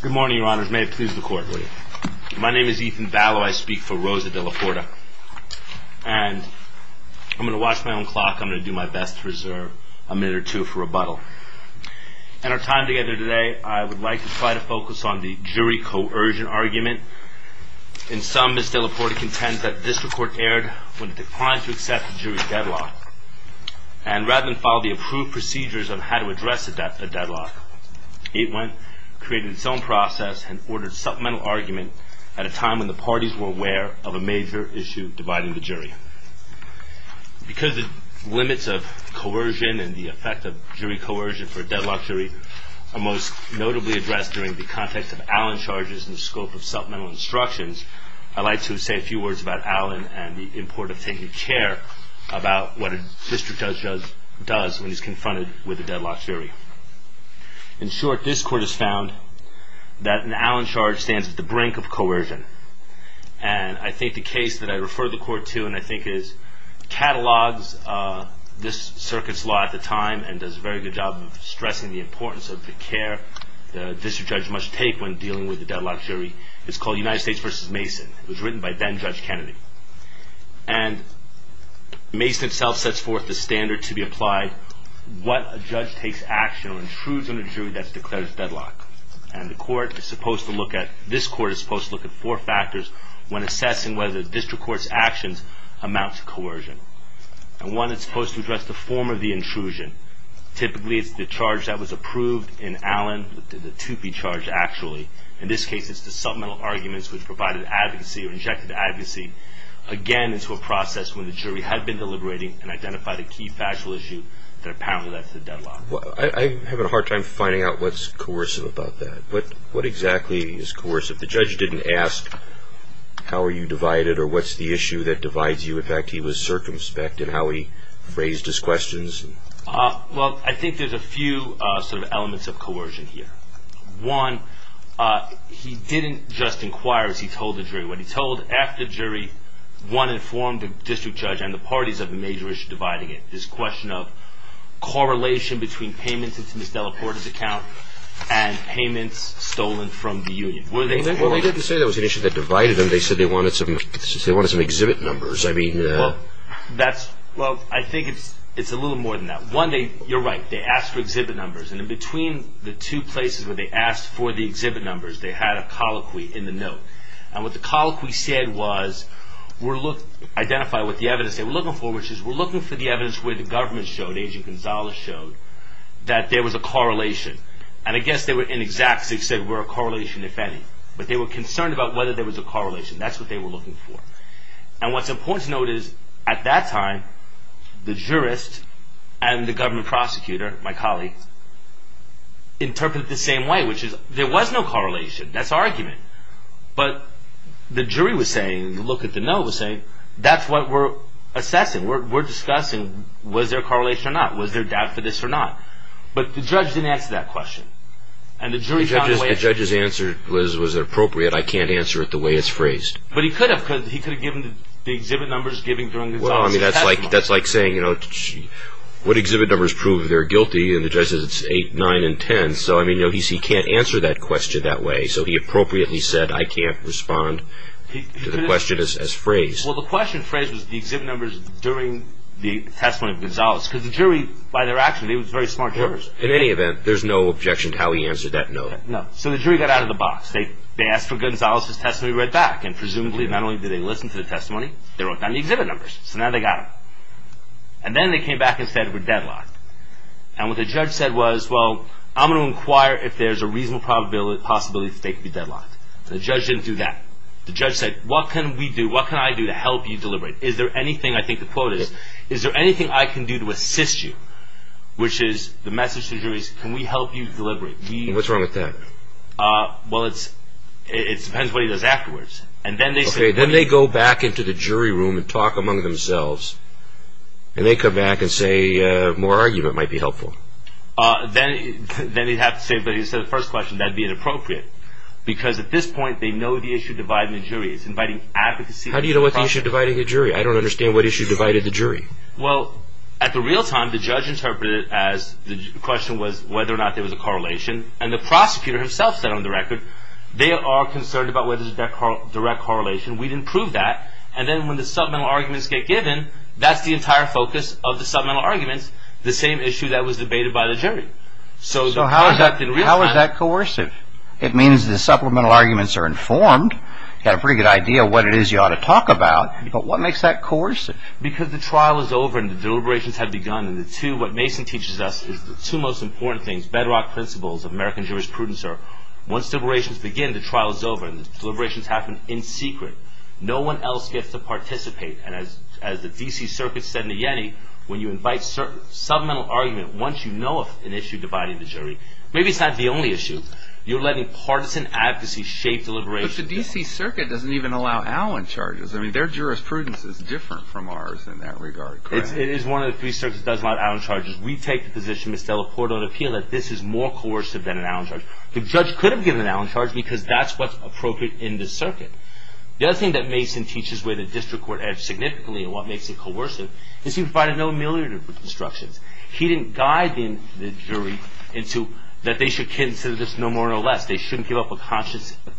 Good morning, your honors. May it please the court. My name is Ethan Vallow. I speak for Rosa Della Porta. I'm going to watch my own clock. I'm going to do my best to reserve a minute or two for rebuttal. In our time together today, I would like to try to focus on the jury coercion argument. In sum, Ms. Della Porta contends that the district court erred when it declined to accept the jury's deadlock. Rather than follow the approved procedures on how to address a deadlock, it went, created its own process, and ordered supplemental argument at a time when the parties were aware of a major issue dividing the jury. Because the limits of coercion and the effect of jury coercion for a deadlock jury are most notably addressed during the context of Allen charges in the scope of supplemental instructions, I'd like to say a few words about Allen and the importance of taking care about what a district judge does when he's confronted with a deadlock jury. In short, this court has found that an Allen charge stands at the brink of coercion. And I think the case that I refer the court to and I think it catalogs this circuit's law at the time and does a very good job of stressing the importance of the care the district judge must take when dealing with a deadlock jury is called United States v. Mason. It was written by then-Judge Kennedy. And Mason itself sets forth the standard to be applied what a judge takes action or intrudes on a jury that's declared a deadlock. And the court is supposed to look at, this court is supposed to look at four factors when assessing whether the district court's actions amount to coercion. And one is supposed to address the form of the intrusion. Typically, it's the charge that was approved in Allen, the 2P charge actually. In this case, it's the supplemental arguments which provided advocacy or injected advocacy. Again, it's a process when the jury had been deliberating and identified a key factual issue that apparently led to the deadlock. I'm having a hard time finding out what's coercive about that. What exactly is coercive? The judge didn't ask how are you divided or what's the issue that divides you. In fact, he was circumspect in how he phrased his questions. Well, I think there's a few sort of elements of coercion here. One, he didn't just inquire as he told the jury. What he told after the jury, one, informed the district judge and the parties of the major issue dividing it, this question of correlation between payments into Ms. Delaporte's account and payments stolen from the union. Well, they didn't say that was an issue that divided them. They said they wanted some exhibit numbers. Well, I think it's a little more than that. One, you're right. They asked for exhibit numbers. And in between the two places where they asked for the exhibit numbers, they had a colloquy in the note. And what the colloquy said was identify what the evidence they were looking for, which is we're looking for the evidence where the government showed, Agent Gonzalez showed, that there was a correlation. And I guess they were inexact because they said we're a correlation, if any. But they were concerned about whether there was a correlation. That's what they were looking for. And what's important to note is at that time, the jurist and the government prosecutor, my colleague, interpreted it the same way, which is there was no correlation. That's argument. But the jury was saying, look at the note, was saying that's what we're assessing. We're discussing was there a correlation or not, was there doubt for this or not. But the judge didn't answer that question. And the jury found a way. The judge's answer was was it appropriate? I can't answer it the way it's phrased. But he could have, because he could have given the exhibit numbers given during Gonzalez's testimony. Well, I mean, that's like saying, you know, what exhibit numbers prove they're guilty? And the judge says it's 8, 9, and 10. So, I mean, he can't answer that question that way. So he appropriately said I can't respond to the question as phrased. Well, the question phrased was the exhibit numbers during the testimony of Gonzalez. Because the jury, by their action, they were very smart jurors. In any event, there's no objection to how he answered that note. No. So the jury got out of the box. They asked for Gonzalez's testimony right back. And presumably not only did they listen to the testimony, they wrote down the exhibit numbers. So now they got him. And then they came back and said we're deadlocked. And what the judge said was, well, I'm going to inquire if there's a reasonable possibility that they could be deadlocked. The judge didn't do that. The judge said, what can we do, what can I do to help you deliberate? Is there anything, I think the quote is, is there anything I can do to assist you? Which is the message to the jury is can we help you deliberate? What's wrong with that? Well, it depends what he does afterwards. Then they go back into the jury room and talk among themselves. And they come back and say more argument might be helpful. Then he'd have to say, but he said the first question, that'd be inappropriate. Because at this point they know the issue dividing the jury is inviting advocacy. How do you know what the issue dividing the jury is? I don't understand what issue divided the jury. Well, at the real time the judge interpreted it as the question was whether or not there was a correlation. And the prosecutor himself said on the record they are concerned about whether there's a direct correlation. We didn't prove that. And then when the supplemental arguments get given, that's the entire focus of the supplemental arguments. The same issue that was debated by the jury. So how is that coercive? It means the supplemental arguments are informed. You've got a pretty good idea of what it is you ought to talk about. But what makes that coercive? Because the trial is over and the deliberations have begun. And what Mason teaches us is the two most important things, bedrock principles of American jurisprudence are once deliberations begin, the trial is over and the deliberations happen in secret. No one else gets to participate. And as the D.C. Circuit said in the Yanny, when you invite supplemental argument, once you know an issue dividing the jury, maybe it's not the only issue. You're letting partisan advocacy shape deliberations. But the D.C. Circuit doesn't even allow Allen charges. I mean, their jurisprudence is different from ours in that regard, correct? It is one of the three circuits that doesn't allow Allen charges. We take the position, Ms. Delaporte, on appeal, that this is more coercive than an Allen charge. The judge could have given an Allen charge because that's what's appropriate in this circuit. The other thing that Mason teaches where the district court edged significantly and what makes it coercive is he provided no ameliorative instructions. He didn't guide the jury into that they should consider this no more no less. They shouldn't give up a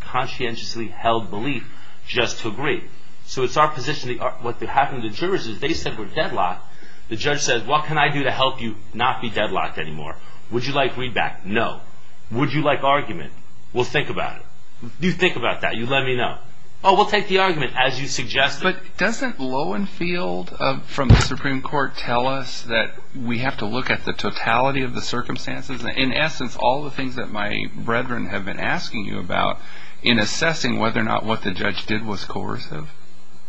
conscientiously held belief just to agree. So it's our position what happened to the jurors is they said we're deadlocked. The judge says, what can I do to help you not be deadlocked anymore? Would you like readback? No. Would you like argument? We'll think about it. You think about that. You let me know. Oh, we'll take the argument as you suggested. But doesn't Lowenfield from the Supreme Court tell us that we have to look at the totality of the circumstances? In essence, all the things that my brethren have been asking you about in assessing whether or not what the judge did was coercive?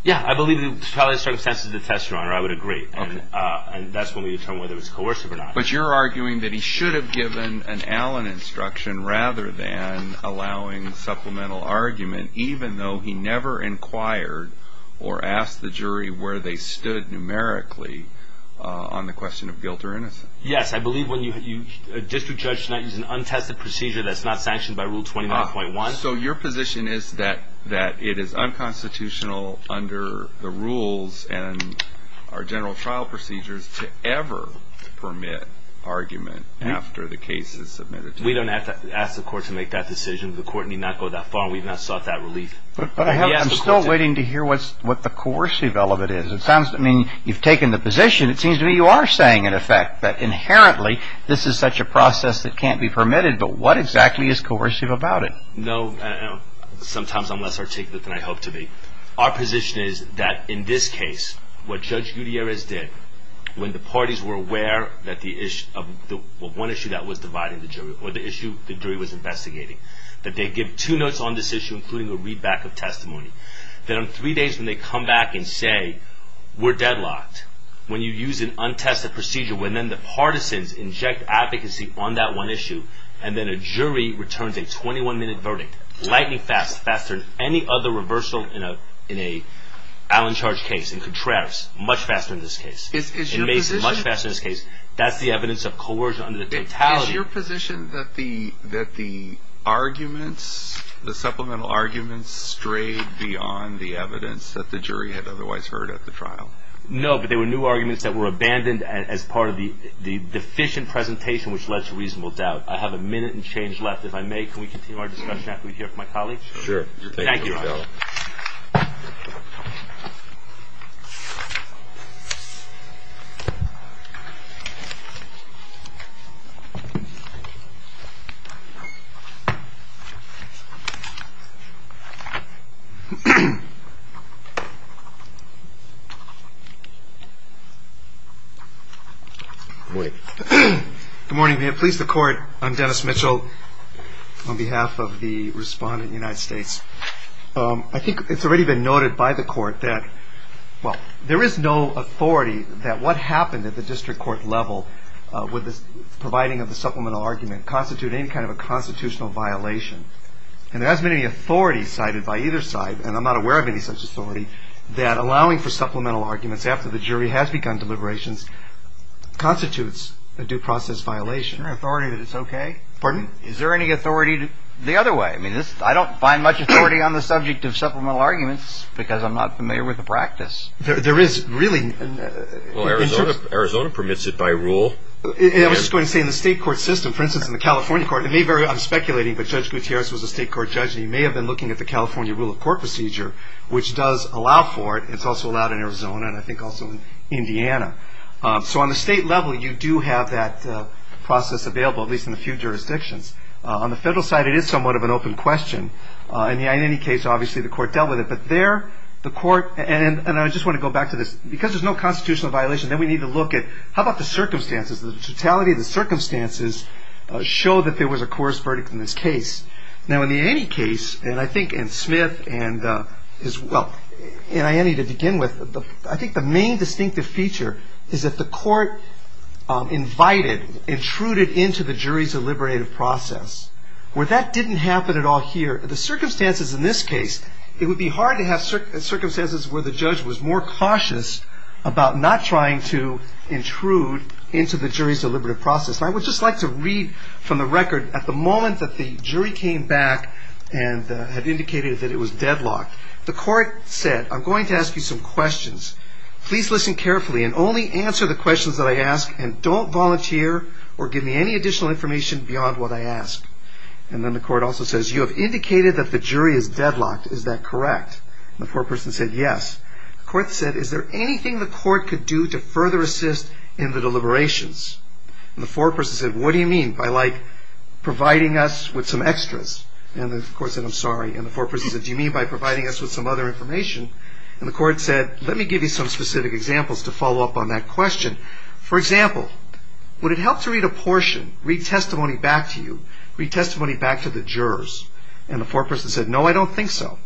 Yeah, I believe the totality of the circumstances is the test, Your Honor. I would agree. And that's when we determine whether it's coercive or not. But you're arguing that he should have given an Allen instruction rather than allowing supplemental argument, even though he never inquired or asked the jury where they stood numerically on the question of guilt or innocence. Yes, I believe when a district judge is not using an untested procedure that's not sanctioned by Rule 29.1. So your position is that it is unconstitutional under the rules and our general trial procedures to ever permit argument after the case is submitted? We don't have to ask the court to make that decision. The court need not go that far. We've not sought that relief. But I'm still waiting to hear what the coercive element is. I mean, you've taken the position. It seems to me you are saying, in effect, that inherently this is such a process that can't be permitted. But what exactly is coercive about it? No, sometimes I'm less articulate than I hope to be. Our position is that in this case, what Judge Gutierrez did, when the parties were aware of one issue that was dividing the jury, or the issue the jury was investigating, that they give two notes on this issue, including a readback of testimony. Then on three days when they come back and say, we're deadlocked, when you use an untested procedure, when then the partisans inject advocacy on that one issue, and then a jury returns a 21-minute verdict, lightning fast, faster than any other reversal in an Allen charge case, in contrast, much faster in this case. It makes it much faster in this case. That's the evidence of coercion under the totality. Is your position that the arguments, the supplemental arguments, strayed beyond the evidence that the jury had otherwise heard at the trial? No, but they were new arguments that were abandoned as part of the deficient presentation, which led to reasonable doubt. I have a minute and change left. If I may, can we continue our discussion after we hear from my colleagues? Sure. Good morning. Please, the court. I'm Dennis Mitchell on behalf of the respondent, United States. I think it's already been noted by the court that, well, there is no authority that what happened at the district court level with the providing of the supplemental argument constitute any kind of a constitutional violation. And there hasn't been any authority cited by either side, and I'm not aware of any such authority, that allowing for supplemental arguments after the jury has begun deliberations constitutes a due process violation. Is there any authority that it's okay? Pardon? Is there any authority the other way? I mean, I don't find much authority on the subject of supplemental arguments because I'm not familiar with the practice. There is really. Well, Arizona permits it by rule. I was just going to say, in the state court system, for instance, in the California court, it may vary. I'm speculating, but Judge Gutierrez was a state court judge, and he may have been looking at the California rule of court procedure, which does allow for it. It's also allowed in Arizona, and I think also in Indiana. So on the state level, you do have that process available, at least in a few jurisdictions. On the federal side, it is somewhat of an open question. In any case, obviously, the court dealt with it. But there, the court – and I just want to go back to this. Because there's no constitutional violation, then we need to look at, how about the circumstances? The totality of the circumstances show that there was a coerced verdict in this case. Now, in the Annie case, and I think in Smith and his – well, in Annie to begin with, I think the main distinctive feature is that the court invited, intruded into the jury's deliberative process. Where that didn't happen at all here, the circumstances in this case, it would be hard to have circumstances where the judge was more cautious about not trying to intrude into the jury's deliberative process. I would just like to read from the record. At the moment that the jury came back and had indicated that it was deadlocked, the court said, I'm going to ask you some questions. Please listen carefully and only answer the questions that I ask, and don't volunteer or give me any additional information beyond what I ask. And then the court also says, you have indicated that the jury is deadlocked. Is that correct? The foreperson said, yes. The court said, is there anything the court could do to further assist in the deliberations? And the foreperson said, what do you mean by like providing us with some extras? And the court said, I'm sorry. And the foreperson said, do you mean by providing us with some other information? And the court said, let me give you some specific examples to follow up on that question. For example, would it help to read a portion, read testimony back to you, read testimony back to the jurors? And the foreperson said, no, I don't think so.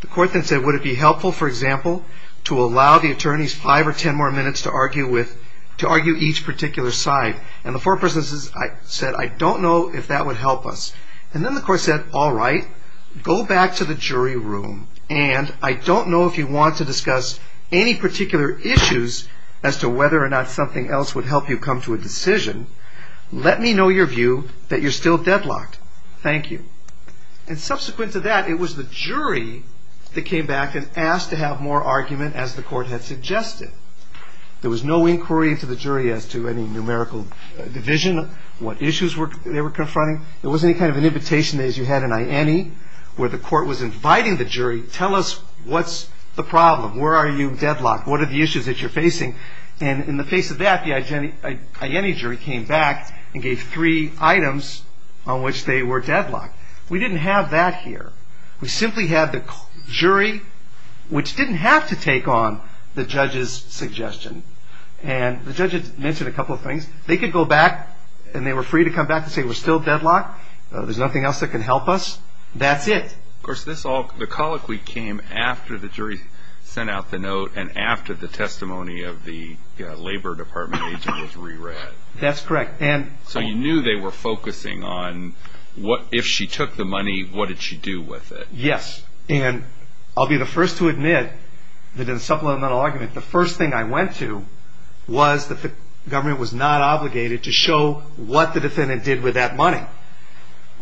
The court then said, would it be helpful, for example, to allow the attorneys five or ten more minutes to argue each particular side? And the foreperson said, I don't know if that would help us. And then the court said, all right, go back to the jury room, and I don't know if you want to discuss any particular issues as to whether or not something else would help you come to a decision. Let me know your view that you're still deadlocked. Thank you. And subsequent to that, it was the jury that came back and asked to have more argument, as the court had suggested. There was no inquiry into the jury as to any numerical division, what issues they were confronting. There wasn't any kind of an invitation, as you had in I.N.E., where the court was inviting the jury, tell us what's the problem, where are you deadlocked, what are the issues that you're facing? And in the face of that, the I.N.E. jury came back and gave three items on which they were deadlocked. We didn't have that here. We simply had the jury, which didn't have to take on the judge's suggestion. And the judge had mentioned a couple of things. They could go back, and they were free to come back and say we're still deadlocked, there's nothing else that can help us. That's it. Of course, the colloquy came after the jury sent out the note and after the testimony of the Labor Department agent was re-read. That's correct. So you knew they were focusing on if she took the money, what did she do with it? Yes. And I'll be the first to admit that in the supplemental argument, the first thing I went to was that the government was not obligated to show what the defendant did with that money.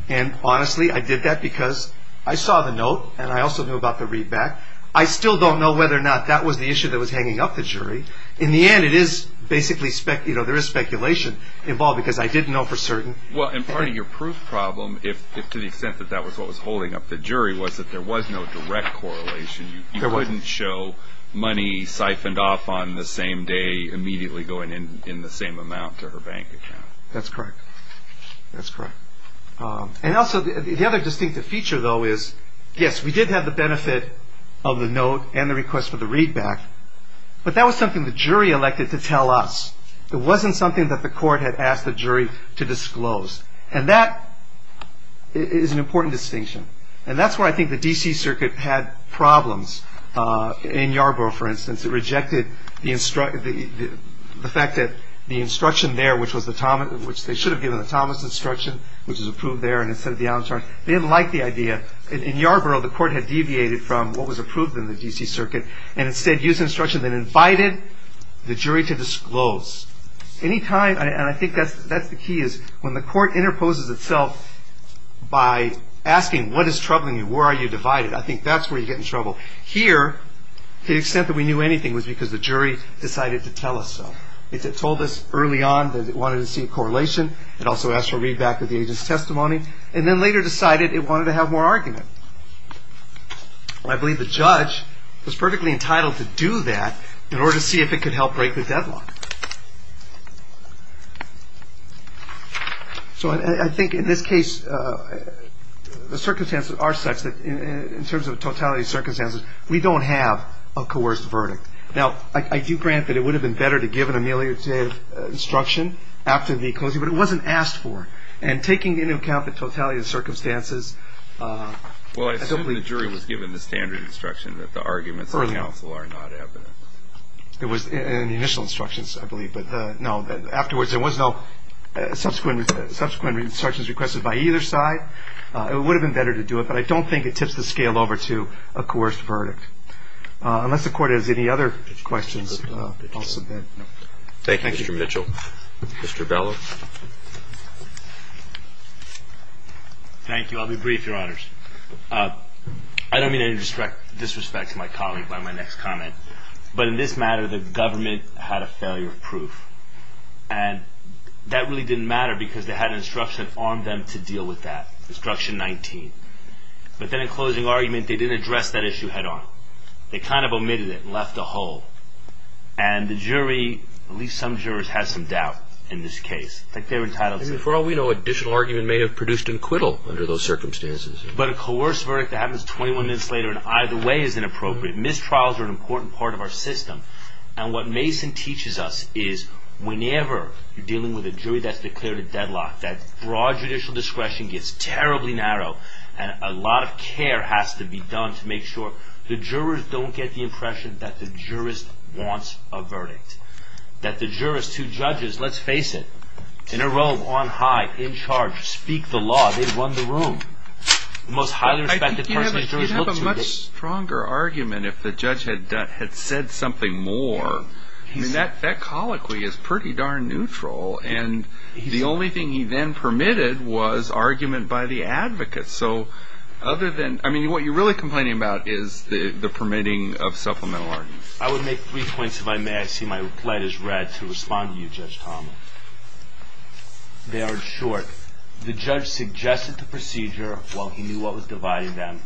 And honestly, I did that because I saw the note, and I also knew about the readback. I still don't know whether or not that was the issue that was hanging up the jury. In the end, there is speculation involved because I didn't know for certain. Well, and part of your proof problem, if to the extent that that was what was holding up the jury, was that there was no direct correlation. You couldn't show money siphoned off on the same day immediately going in the same amount to her bank account. That's correct. That's correct. And also, the other distinctive feature, though, is, yes, we did have the benefit of the note and the request for the readback, but that was something the jury elected to tell us. It wasn't something that the court had asked the jury to disclose. And that is an important distinction. And that's where I think the D.C. Circuit had problems. In Yarborough, for instance, it rejected the fact that the instruction there, which they should have given the Thomas instruction, which was approved there, and instead of the Allen charge, they didn't like the idea. In Yarborough, the court had deviated from what was approved in the D.C. Circuit, and instead used an instruction that invited the jury to disclose. Any time, and I think that's the key, is when the court interposes itself by asking what is troubling you, where are you divided, I think that's where you get in trouble. Here, to the extent that we knew anything was because the jury decided to tell us so. It told us early on that it wanted to see a correlation. It also asked for a readback of the agent's testimony, and then later decided it wanted to have more argument. I believe the judge was perfectly entitled to do that in order to see if it could help break the deadlock. So I think in this case, the circumstances are such that in terms of totality of circumstances, we don't have a coerced verdict. Now, I do grant that it would have been better to give an ameliorative instruction after the closing, but it wasn't asked for. And taking into account the totality of circumstances... Well, I assume the jury was given the standard instruction that the arguments of counsel are not evidence. It was in the initial instructions, I believe. Afterwards, there was no subsequent instructions requested by either side. It would have been better to do it, but I don't think it tips the scale over to a coerced verdict. Unless the court has any other questions, I'll submit. Thank you, Mr. Mitchell. Mr. Bellow. Thank you. I'll be brief, Your Honors. I don't mean to disrespect my colleague by my next comment, but in this matter, the government had a failure of proof. And that really didn't matter because they had an instruction on them to deal with that. Instruction 19. But then in closing argument, they didn't address that issue head-on. They kind of omitted it and left a hole. And the jury, at least some jurors, has some doubt in this case. Like they're entitled to... For all we know, additional argument may have produced acquittal under those circumstances. But a coerced verdict that happens 21 minutes later in either way is inappropriate. Mistrials are an important part of our system. And what Mason teaches us is whenever you're dealing with a jury that's declared a deadlock, that broad judicial discretion gets terribly narrow, and a lot of care has to be done to make sure the jurors don't get the impression that the jurist wants a verdict. That the jurors, two judges, let's face it, in a row, on high, in charge, speak the law, they run the room. The most highly respected person in the jury looks... You'd have a much stronger argument if the judge had said something more. I mean, that colloquy is pretty darn neutral. And the only thing he then permitted was argument by the advocates. So, other than... I mean, what you're really complaining about is the permitting of supplemental arguments. I would make three points if I may. I see my reply is red. To respond to you, Judge Thomas. They are short. The judge suggested the procedure while he knew what was dividing them,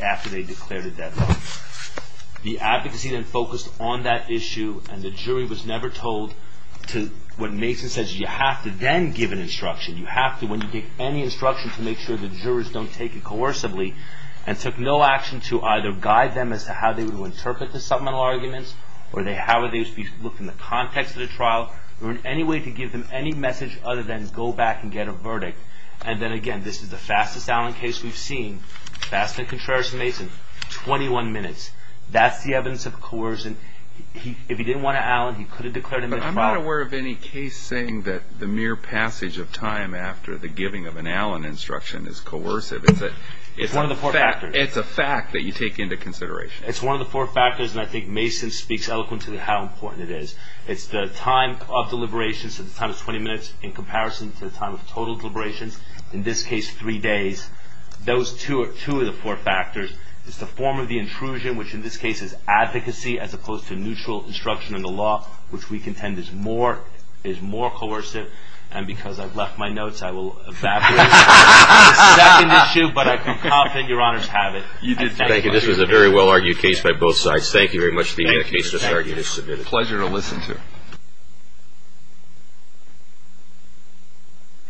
after they declared a deadlock. The advocacy then focused on that issue, and the jury was never told to... What Mason says is you have to then give an instruction. You have to, when you give any instruction, to make sure the jurors don't take it coercively, and took no action to either guide them as to how they would interpret the supplemental arguments, or how would they look in the context of the trial, or in any way to give them any message other than go back and get a verdict. And then, again, this is the fastest Allen case we've seen. Fast and contrarious to Mason. 21 minutes. That's the evidence of coercion. If he didn't want an Allen, he could have declared him in the trial. I'm not aware of any case saying that the mere passage of time after the giving of an Allen instruction is coercive. It's one of the four factors. It's a fact that you take into consideration. It's one of the four factors, and I think Mason speaks eloquently how important it is. It's the time of deliberations. It's the time of 20 minutes in comparison to the time of total deliberations. In this case, three days. Those two are two of the four factors. It's the form of the intrusion, which in this case is advocacy, as opposed to neutral instruction in the law, which we contend is more coercive. And because I've left my notes, I will evaporate. This is the second issue, but I'm confident Your Honors have it. Thank you. This was a very well-argued case by both sides. Thank you very much for the case. Pleasure to listen to it.